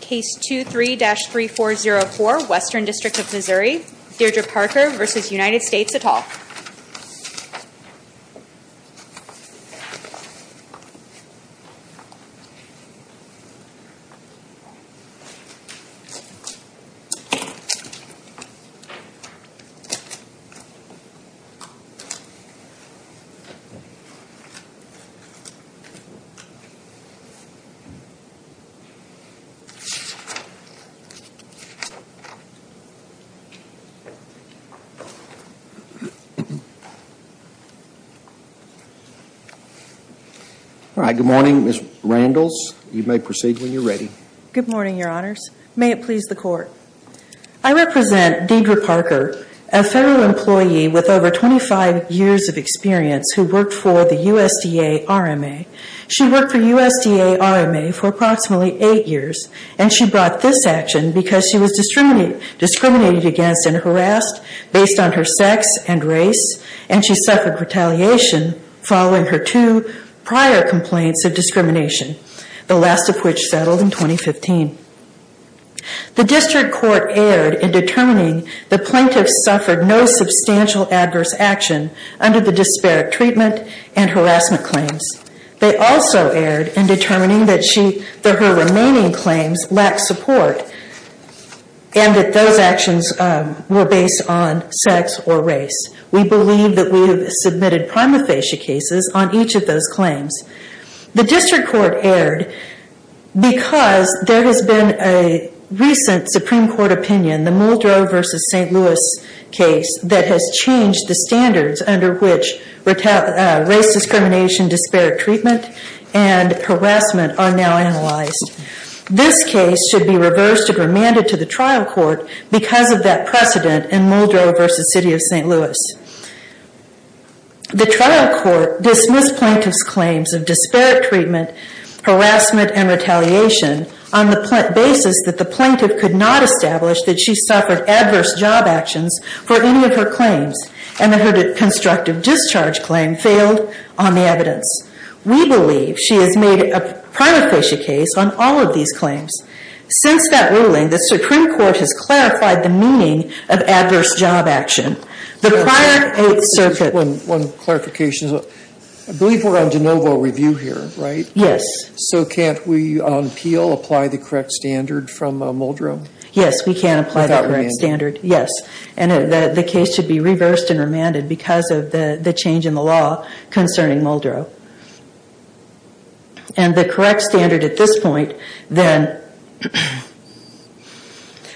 Case 23-3404, Western District of Missouri, Deidre Parker v. United States et al. All right, good morning, Ms. Randles. You may proceed when you're ready. Good morning, Your Honors. May it please the Court. I represent Deidre Parker, a federal employee with over 25 years of experience who worked for the USDA RMA. She worked for USDA RMA for approximately eight years, and she brought this action because she was discriminated against and harassed based on her sex and race, and she suffered retaliation following her two prior complaints of discrimination, the last of which settled in 2015. The District Court erred in determining the plaintiff suffered no substantial adverse action under the disparate treatment and harassment claims. They also erred in determining that her remaining claims lacked support and that those actions were based on sex or race. We believe that we have submitted prima facie cases on each of those claims. The District Court erred because there has been a recent Supreme Court opinion, the Muldrow v. St. Louis case, that has changed the standards under which race discrimination, disparate treatment, and harassment are now analyzed. This case should be reversed and remanded to the trial court because of that precedent in Muldrow v. City of St. Louis. The trial court dismissed plaintiff's claims of disparate treatment, harassment, and retaliation on the basis that the plaintiff could not establish that she suffered adverse job actions for any of her claims, and that her constructive discharge claim failed on the evidence. We believe she has made a prima facie case on all of these claims. Since that ruling, the Supreme Court has clarified the meaning of adverse job action. The prior Eighth Circuit... One clarification. I believe we're on de novo review here, right? Yes. So can't we on appeal apply the correct standard from Muldrow? Yes, we can apply the correct standard. The case should be reversed and remanded because of the change in the law concerning Muldrow. And the correct standard at this point, then...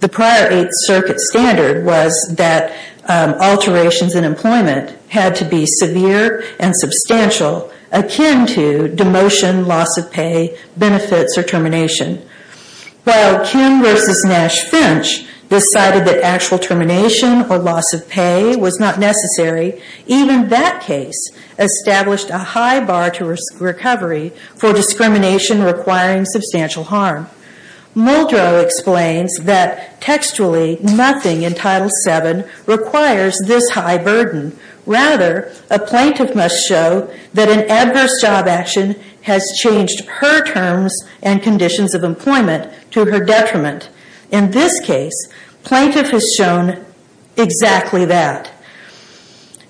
The prior Eighth Circuit standard was that alterations in employment had to be severe and substantial, akin to demotion, loss of pay, benefits, or termination. While Kim v. Nash Finch decided that actual termination or loss of pay was not necessary, even that case established a high bar to recovery for discrimination requiring substantial harm. Muldrow explains that textually, nothing in Title VII requires this high burden. Rather, a plaintiff must show that an adverse job action has changed her terms and conditions of employment to her detriment. In this case, plaintiff has shown exactly that.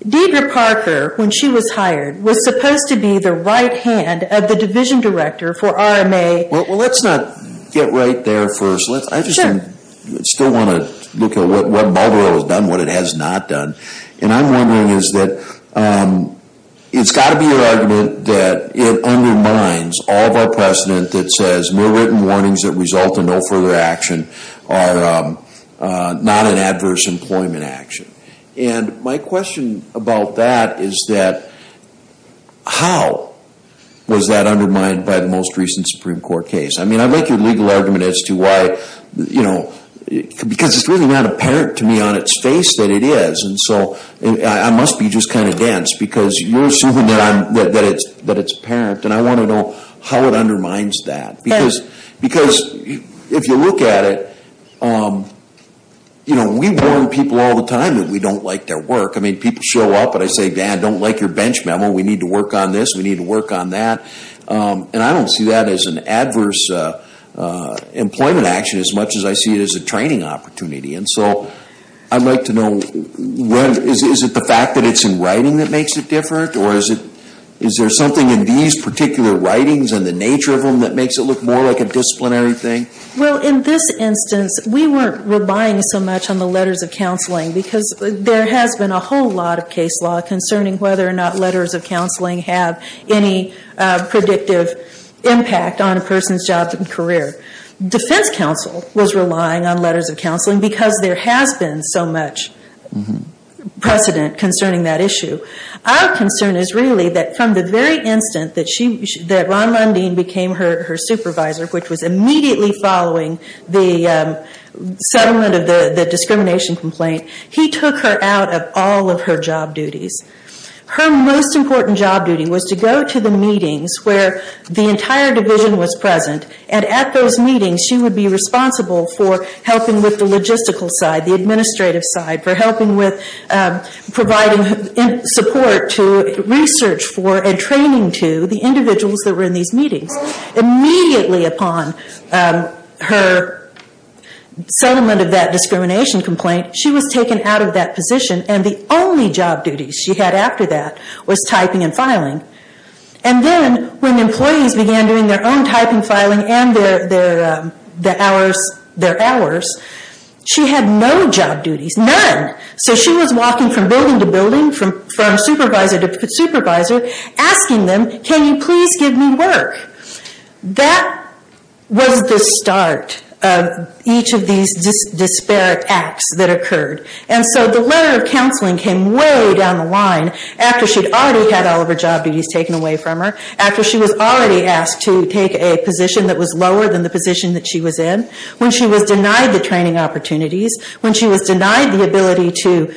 Deidre Parker, when she was hired, was supposed to be the right hand of the division director for RMA... Well, let's not get right there first. I just still want to look at what Muldrow has done, what it has not done. And I'm wondering is that it's got to be your argument that it undermines all of our precedent that says mere written warnings that result in no further action are not an adverse employment action. And my question about that is that how was that undermined by the most recent Supreme Court case? I mean, I like your legal argument as to why, you know, because it's really not apparent to me on its face that it is. And so I must be just kind of dense because you're assuming that it's apparent. And I want to know how it undermines that. Because if you look at it, you know, we warn people all the time that we don't like their work. I mean, people show up and I say, Dad, I don't like your bench memo. We need to work on this. We need to work on that. And I don't see that as an adverse employment action as much as I see it as a training opportunity. And so I'd like to know, is it the fact that it's in writing that makes it different? Or is there something in these particular writings and the nature of them that makes it look more like a disciplinary thing? Well, in this instance, we weren't relying so much on the letters of counseling because there has been a whole lot of case law concerning whether or not letters of counseling have any predictive impact on a person's job and career. Defense counsel was relying on letters of counseling because there has been so much precedent concerning that issue. Our concern is really that from the very instant that Ron Mundine became her supervisor, which was immediately following the settlement of the discrimination complaint, he took her out of all of her job duties. Her most important job duty was to go to the meetings where the entire division was present and at those meetings she would be responsible for helping with the logistical side, the administrative side, for helping with providing support to research for and training to the individuals that were in these meetings. Immediately upon her settlement of that discrimination complaint, she was taken out of that position and the only job duties she had after that was typing and filing. And then when employees began doing their own typing, filing and their hours, she had no job duties, none. So she was walking from building to building from supervisor to supervisor asking them, can you please give me work? That was the start of each of these disparate acts that occurred. And so the letter of counseling came way down the line after she'd already had all of her job duties taken away from her, after she was already asked to take a position that was lower than the position that she was in, when she was denied the training opportunities, when she was denied the ability to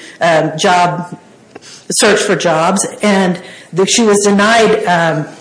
search for jobs and that she was denied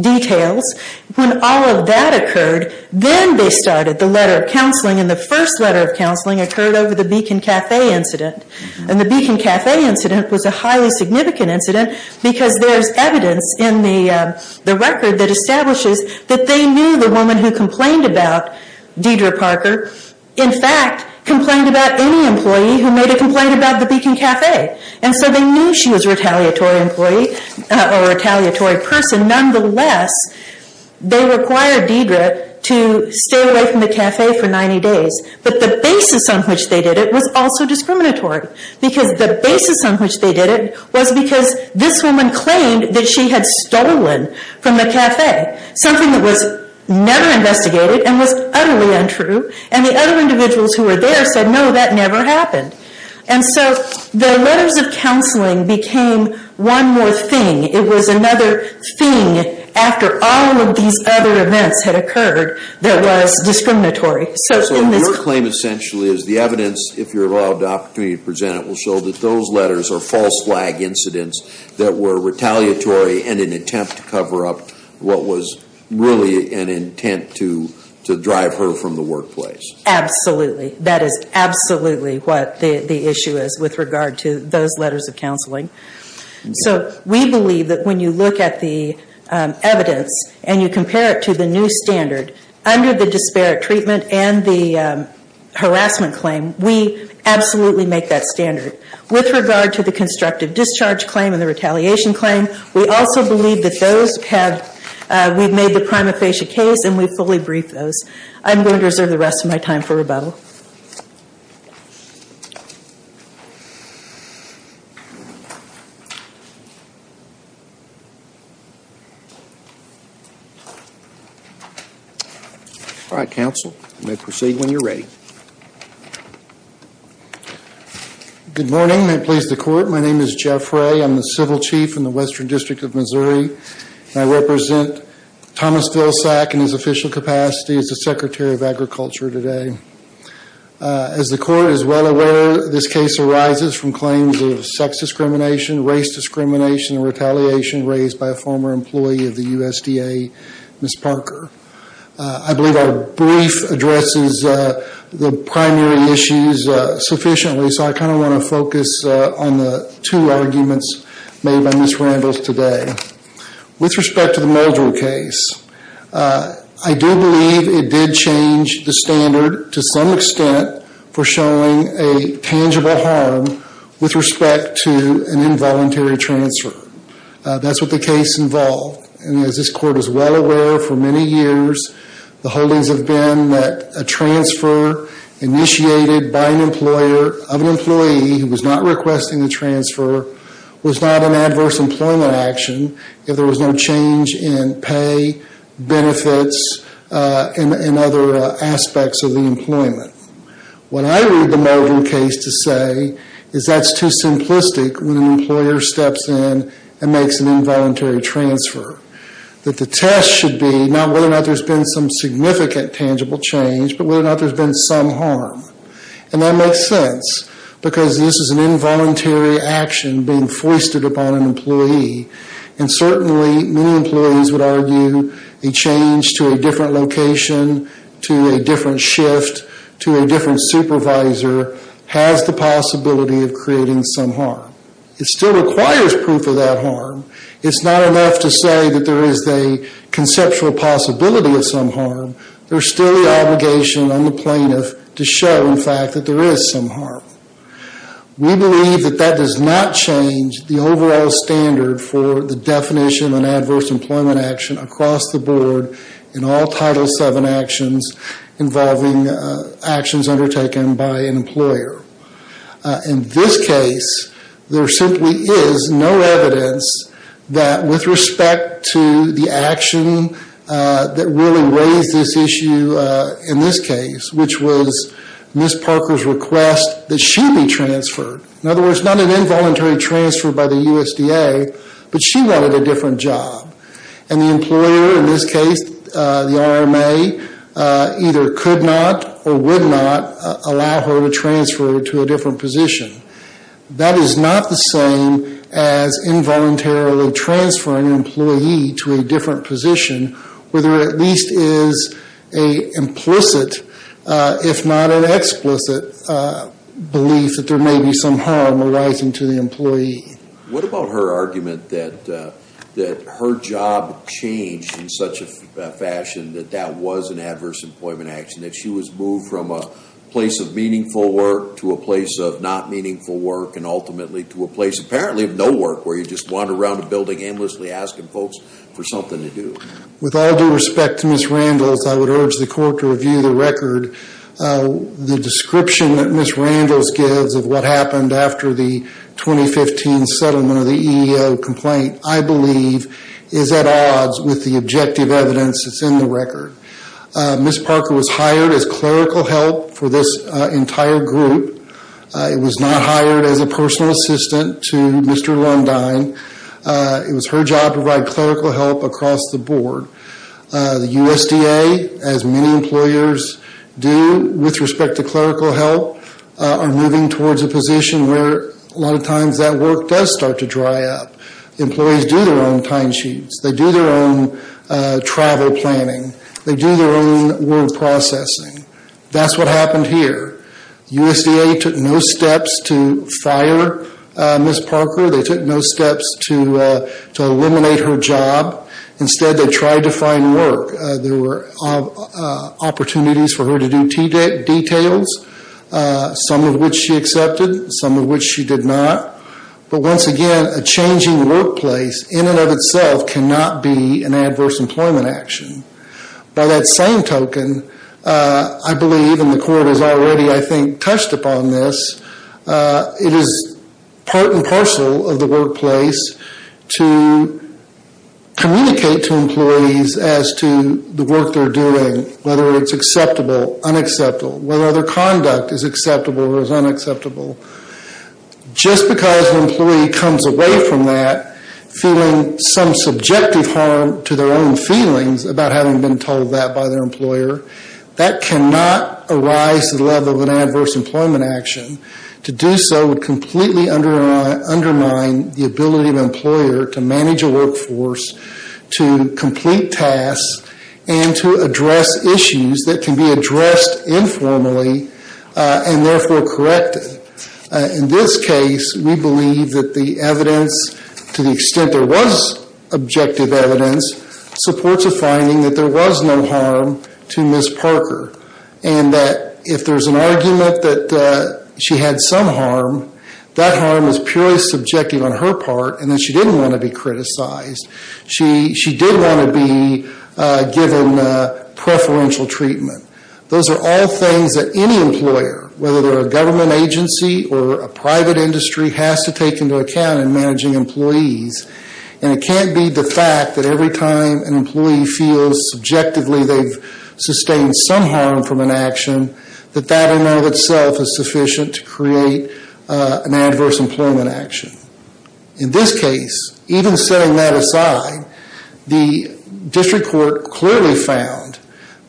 details. When all of that occurred, then they started the letter of counseling and the first letter of counseling occurred over the Beacon Cafe incident. And the Beacon Cafe incident was a highly significant incident because there's evidence in the record that establishes that they knew the woman who complained about Deidre Parker, in fact, complained about any employee who made a complaint about the Beacon Cafe. And so they knew she was a retaliatory employee or retaliatory person. Nonetheless, they required Deidre to stay away from the cafe for 90 days. But the basis on which they did it was also discriminatory. Because the basis on which they did it was because this woman claimed that she had stolen from the cafe, something that was never investigated and was utterly untrue. And the other individuals who were there said, no, that never happened. And so the letters of counseling became one more thing. It was another thing after all of these other events had occurred that was discriminatory. So your claim essentially is the evidence, if you're allowed the opportunity to present it, will show that those letters are false flag incidents that were retaliatory in an attempt to cover up what was really an intent to drive her from the workplace. Absolutely. That is absolutely what the issue is with regard to those letters of counseling. So we believe that when you look at the evidence and you compare it to the new standard, under the disparate treatment and the harassment claim, we absolutely make that standard. With regard to the constructive discharge claim and the retaliation claim, we also believe that those have, we've made the prima facie case and we've fully briefed those. I'm going to reserve the rest of my time for rebuttal. All right, counsel, you may proceed when you're ready. Good morning. May it please the court, my name is Jeff Ray. I'm the Civil Chief in the Western District of Missouri. I represent Thomas Vilsack in his official capacity as the Secretary of Agriculture today. As the court is well aware, this case arises from claims of sex discrimination, race discrimination, and retaliation raised by a former employee of the USDA, Ms. Parker. I believe our brief addresses the primary issues sufficiently, so I kind of want to focus on the two arguments made by Ms. Randles today. With respect to the Muldrell case, I do believe it did change the standard to some extent for showing a tangible harm with respect to an involuntary transfer. That's what the case involved, and as this court is well aware for many years, the holdings have been that a transfer initiated by an employer of an employee who was not requesting a transfer was not an adverse employment action if there was no change in pay, benefits, and other aspects of the employment. When I read the Muldrell case to say is that's too simplistic when an employer steps in and makes an involuntary transfer. That the test should be not whether or not there's been some significant tangible change, but whether or not there's been some harm, and that makes sense because this is an involuntary action being foisted upon an employee, and certainly many employees would argue a change to a different location, to a different shift, to a different supervisor has the possibility of creating some harm. It still requires proof of that harm. It's not enough to say that there is a conceptual possibility of some harm. There's still the obligation on the plaintiff to show, in fact, that there is some harm. We believe that that does not change the overall standard for the definition of an adverse employment action across the board in all Title VII actions involving actions undertaken by an employer. In this case, there simply is no evidence that with respect to the action that really raised this issue in this case, which was Ms. Parker's request that she be transferred, in other words, not an involuntary transfer by the USDA, but she wanted a different job, and the employer in this case, the RMA, either could not or would not allow her to transfer to a different position. That is not the same as involuntarily transferring an employee to a different position where there at least is an implicit, if not an explicit, belief that there may be some harm arising to the employee. What about her argument that her job changed in such a fashion that that was an adverse employment action, that she was moved from a place of meaningful work to a place of not meaningful work, and ultimately to a place, apparently, of no work, where you just wander around a building aimlessly asking folks for something to do? With all due respect to Ms. Randles, I would urge the court to review the record. The description that Ms. Randles gives of what happened after the 2015 settlement of the EEO complaint, I believe, is at odds with the objective evidence that's in the record. Ms. Parker was hired as clerical help for this entire group. It was not hired as a personal assistant to Mr. Lundine. It was her job to provide clerical help across the board. The USDA, as many employers do with respect to clerical help, are moving towards a position where a lot of times that work does start to dry up. Employees do their own time sheets. They do their own travel planning. They do their own word processing. That's what happened here. USDA took no steps to fire Ms. Parker. They took no steps to eliminate her job. Instead, they tried to find work. There were opportunities for her to do details, some of which she accepted, some of which she did not. But once again, a changing workplace, in and of itself, cannot be an adverse employment action. By that same token, I believe, and the court has already, I think, touched upon this, it is part and parcel of the workplace to communicate to employees as to the work they're doing, whether it's acceptable, unacceptable, whether their conduct is acceptable or is unacceptable. Just because an employee comes away from that feeling some subjective harm to their own feelings about having been told that by their employer, that cannot arise to the level of an adverse employment action. To do so would completely undermine the ability of an employer to manage a workforce, to complete tasks, and to address issues that can be addressed informally and therefore corrected. In this case, we believe that the evidence, to the extent there was objective evidence, supports a finding that there was no harm to Ms. Parker, and that if there's an argument that she had some harm, that harm is purely subjective on her part and that she didn't want to be criticized. She did want to be given preferential treatment. Those are all things that any employer, whether they're a government agency or a private industry, has to take into account in managing employees. And it can't be the fact that every time an employee feels subjectively they've sustained some harm from an action, that that in and of itself is sufficient to create an adverse employment action. In this case, even setting that aside, the district court clearly found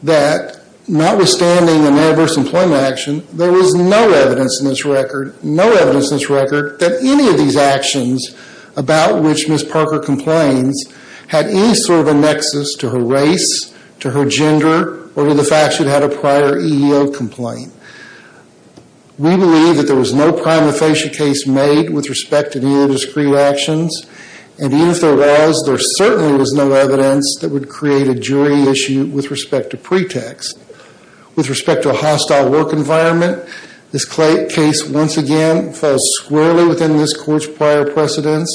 that notwithstanding an adverse employment action, there was no evidence in this record, no evidence in this record that any of these actions about which Ms. Parker complains had any sort of a nexus to her race, to her gender, or to the fact she'd had a prior EEO complaint. We believe that there was no prima facie case made with respect to either of those three actions, and even if there was, there certainly was no evidence that would create a jury issue with respect to pretext. With respect to a hostile work environment, this case once again falls squarely within this court's prior precedence.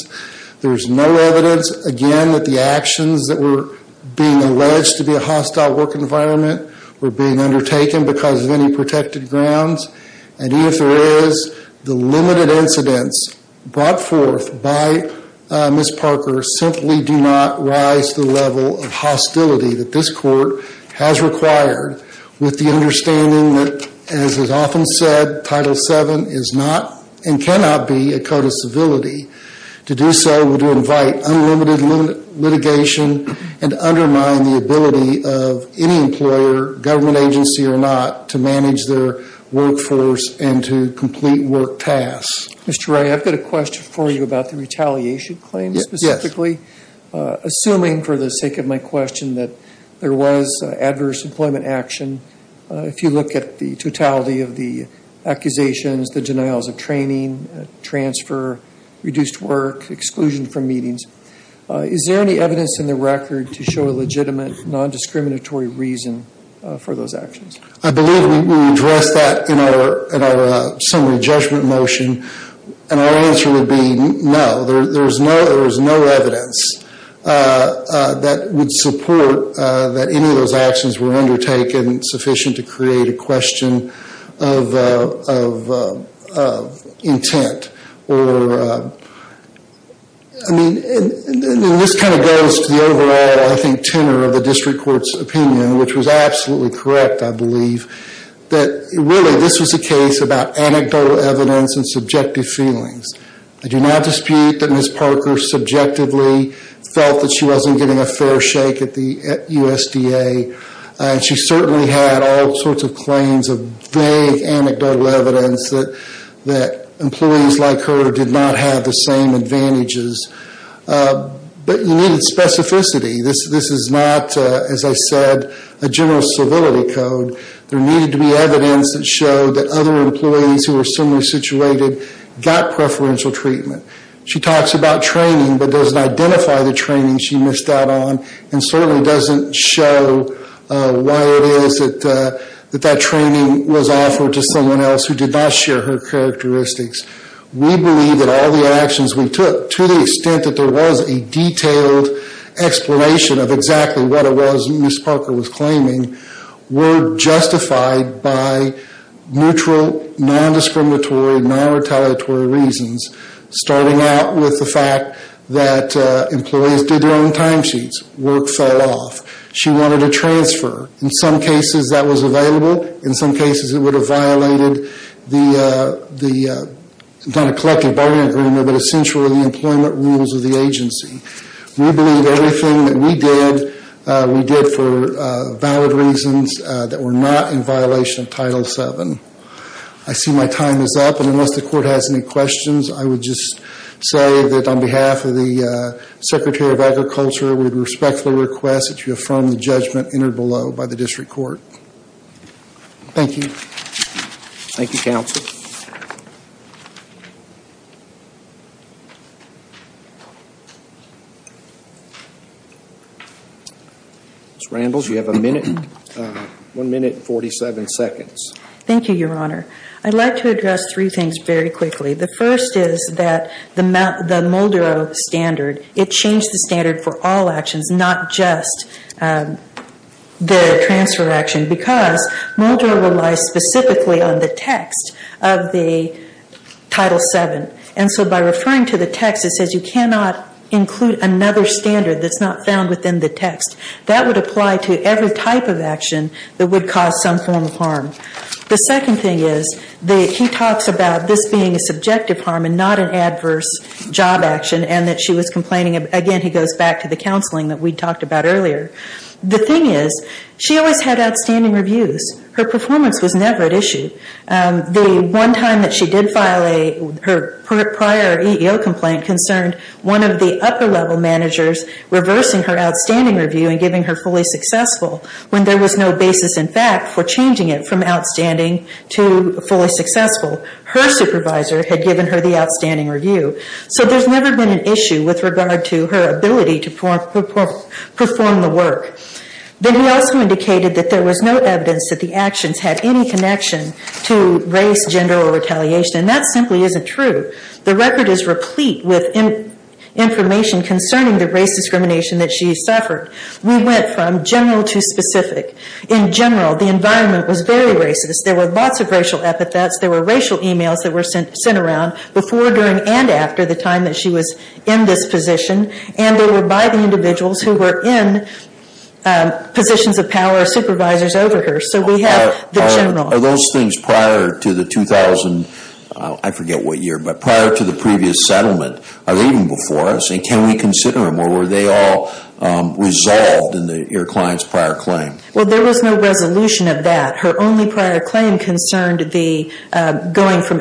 There's no evidence, again, that the actions that were being alleged to be a hostile work environment were being undertaken because of any protected grounds. And even if there is, the limited incidents brought forth by Ms. Parker simply do not rise to the level of hostility that this court has required with the understanding that, as is often said, Title VII is not and cannot be a code of civility. To do so would invite unlimited litigation and undermine the ability of any employer, government agency or not, to manage their workforce and to complete work tasks. Mr. Ray, I've got a question for you about the retaliation claim specifically. Assuming, for the sake of my question, that there was adverse employment action, if you look at the totality of the accusations, the denials of training, transfer, reduced work, exclusion from meetings, is there any evidence in the record to show a legitimate, non-discriminatory reason for those actions? I believe we addressed that in our summary judgment motion, and our answer would be no. There is no evidence that would support that any of those actions were undertaken sufficient to create a question of intent. I mean, this kind of goes to the overall, I think, tenor of the district court's opinion, which was absolutely correct, I believe, that really this was a case about anecdotal evidence and subjective feelings. I do not dispute that Ms. Parker subjectively felt that she wasn't getting a fair shake at USDA, and she certainly had all sorts of claims of vague anecdotal evidence that employees like her did not have the same advantages, but you needed specificity. This is not, as I said, a general civility code. There needed to be evidence that showed that other employees who were similarly situated got preferential treatment. She talks about training, but doesn't identify the training she missed out on, and certainly doesn't show why it is that that training was offered to someone else who did not share her characteristics. We believe that all the actions we took, to the extent that there was a detailed explanation of exactly what it was Ms. Parker was claiming, were justified by neutral, non-discriminatory, non-retaliatory reasons, starting out with the fact that employees did their own timesheets. Work fell off. She wanted a transfer. In some cases, that was available. In some cases, it would have violated the, not a collective bargaining agreement, but essentially the employment rules of the agency. We believe everything that we did, we did for valid reasons that were not in violation of Title VII. I see my time is up, and unless the court has any questions, I would just say that on behalf of the Secretary of Agriculture, we would respectfully request that you affirm the judgment entered below by the district court. Thank you. Thank you, counsel. Ms. Randles, you have a minute, 1 minute and 47 seconds. Thank you, your honor. I'd like to address three things very quickly. The first is that the Moldero standard, it changed the standard for all actions, not just the transfer action, because Moldero relies specifically on the text of the Title VII, and so by referring to the text, it says you cannot include another standard that's not found within the text. That would apply to every type of action that would cause some form of harm. The second thing is that he talks about this being a subjective harm and not an adverse job action, and that she was complaining, again, he goes back to the counseling that we talked about earlier. The thing is, she always had outstanding reviews. Her performance was never at issue. The one time that she did file a, her prior EEO complaint concerned one of the upper level managers reversing her outstanding review and giving her fully successful when there was no basis in fact for changing it from outstanding to fully successful. Her supervisor had given her the outstanding review. So there's never been an issue with regard to her ability to perform the work. Then he also indicated that there was no evidence that the actions had any connection to race, gender, or retaliation, and that simply isn't true. The record is replete with information concerning the race discrimination that she suffered. We went from general to specific. In general, the environment was very racist. There were lots of racial epithets. There were racial emails that were sent around before, during, and after the time that she was in this position, and they were by the individuals who were in positions of power or supervisors over her. So we have the general. Are those things prior to the 2000, I forget what year, but prior to the previous settlement, are they even before us, and can we consider them, or were they all resolved in your client's prior claim? Well, there was no resolution of that. Her only prior claim concerned the going from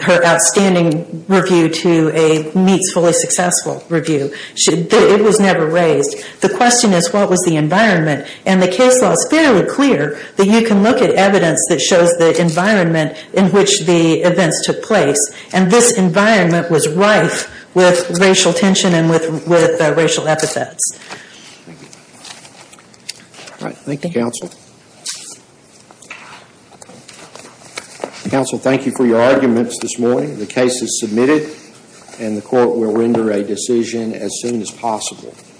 her outstanding review to a meets fully successful review. It was never raised. The question is what was the environment, and the case law is fairly clear that you can look at evidence that shows the environment in which the events took place, and this environment was rife with racial tension and with racial epithets. Thank you. All right. Thank you. Counsel, thank you for your arguments this morning. The case is submitted, and the court will render a decision as soon as possible.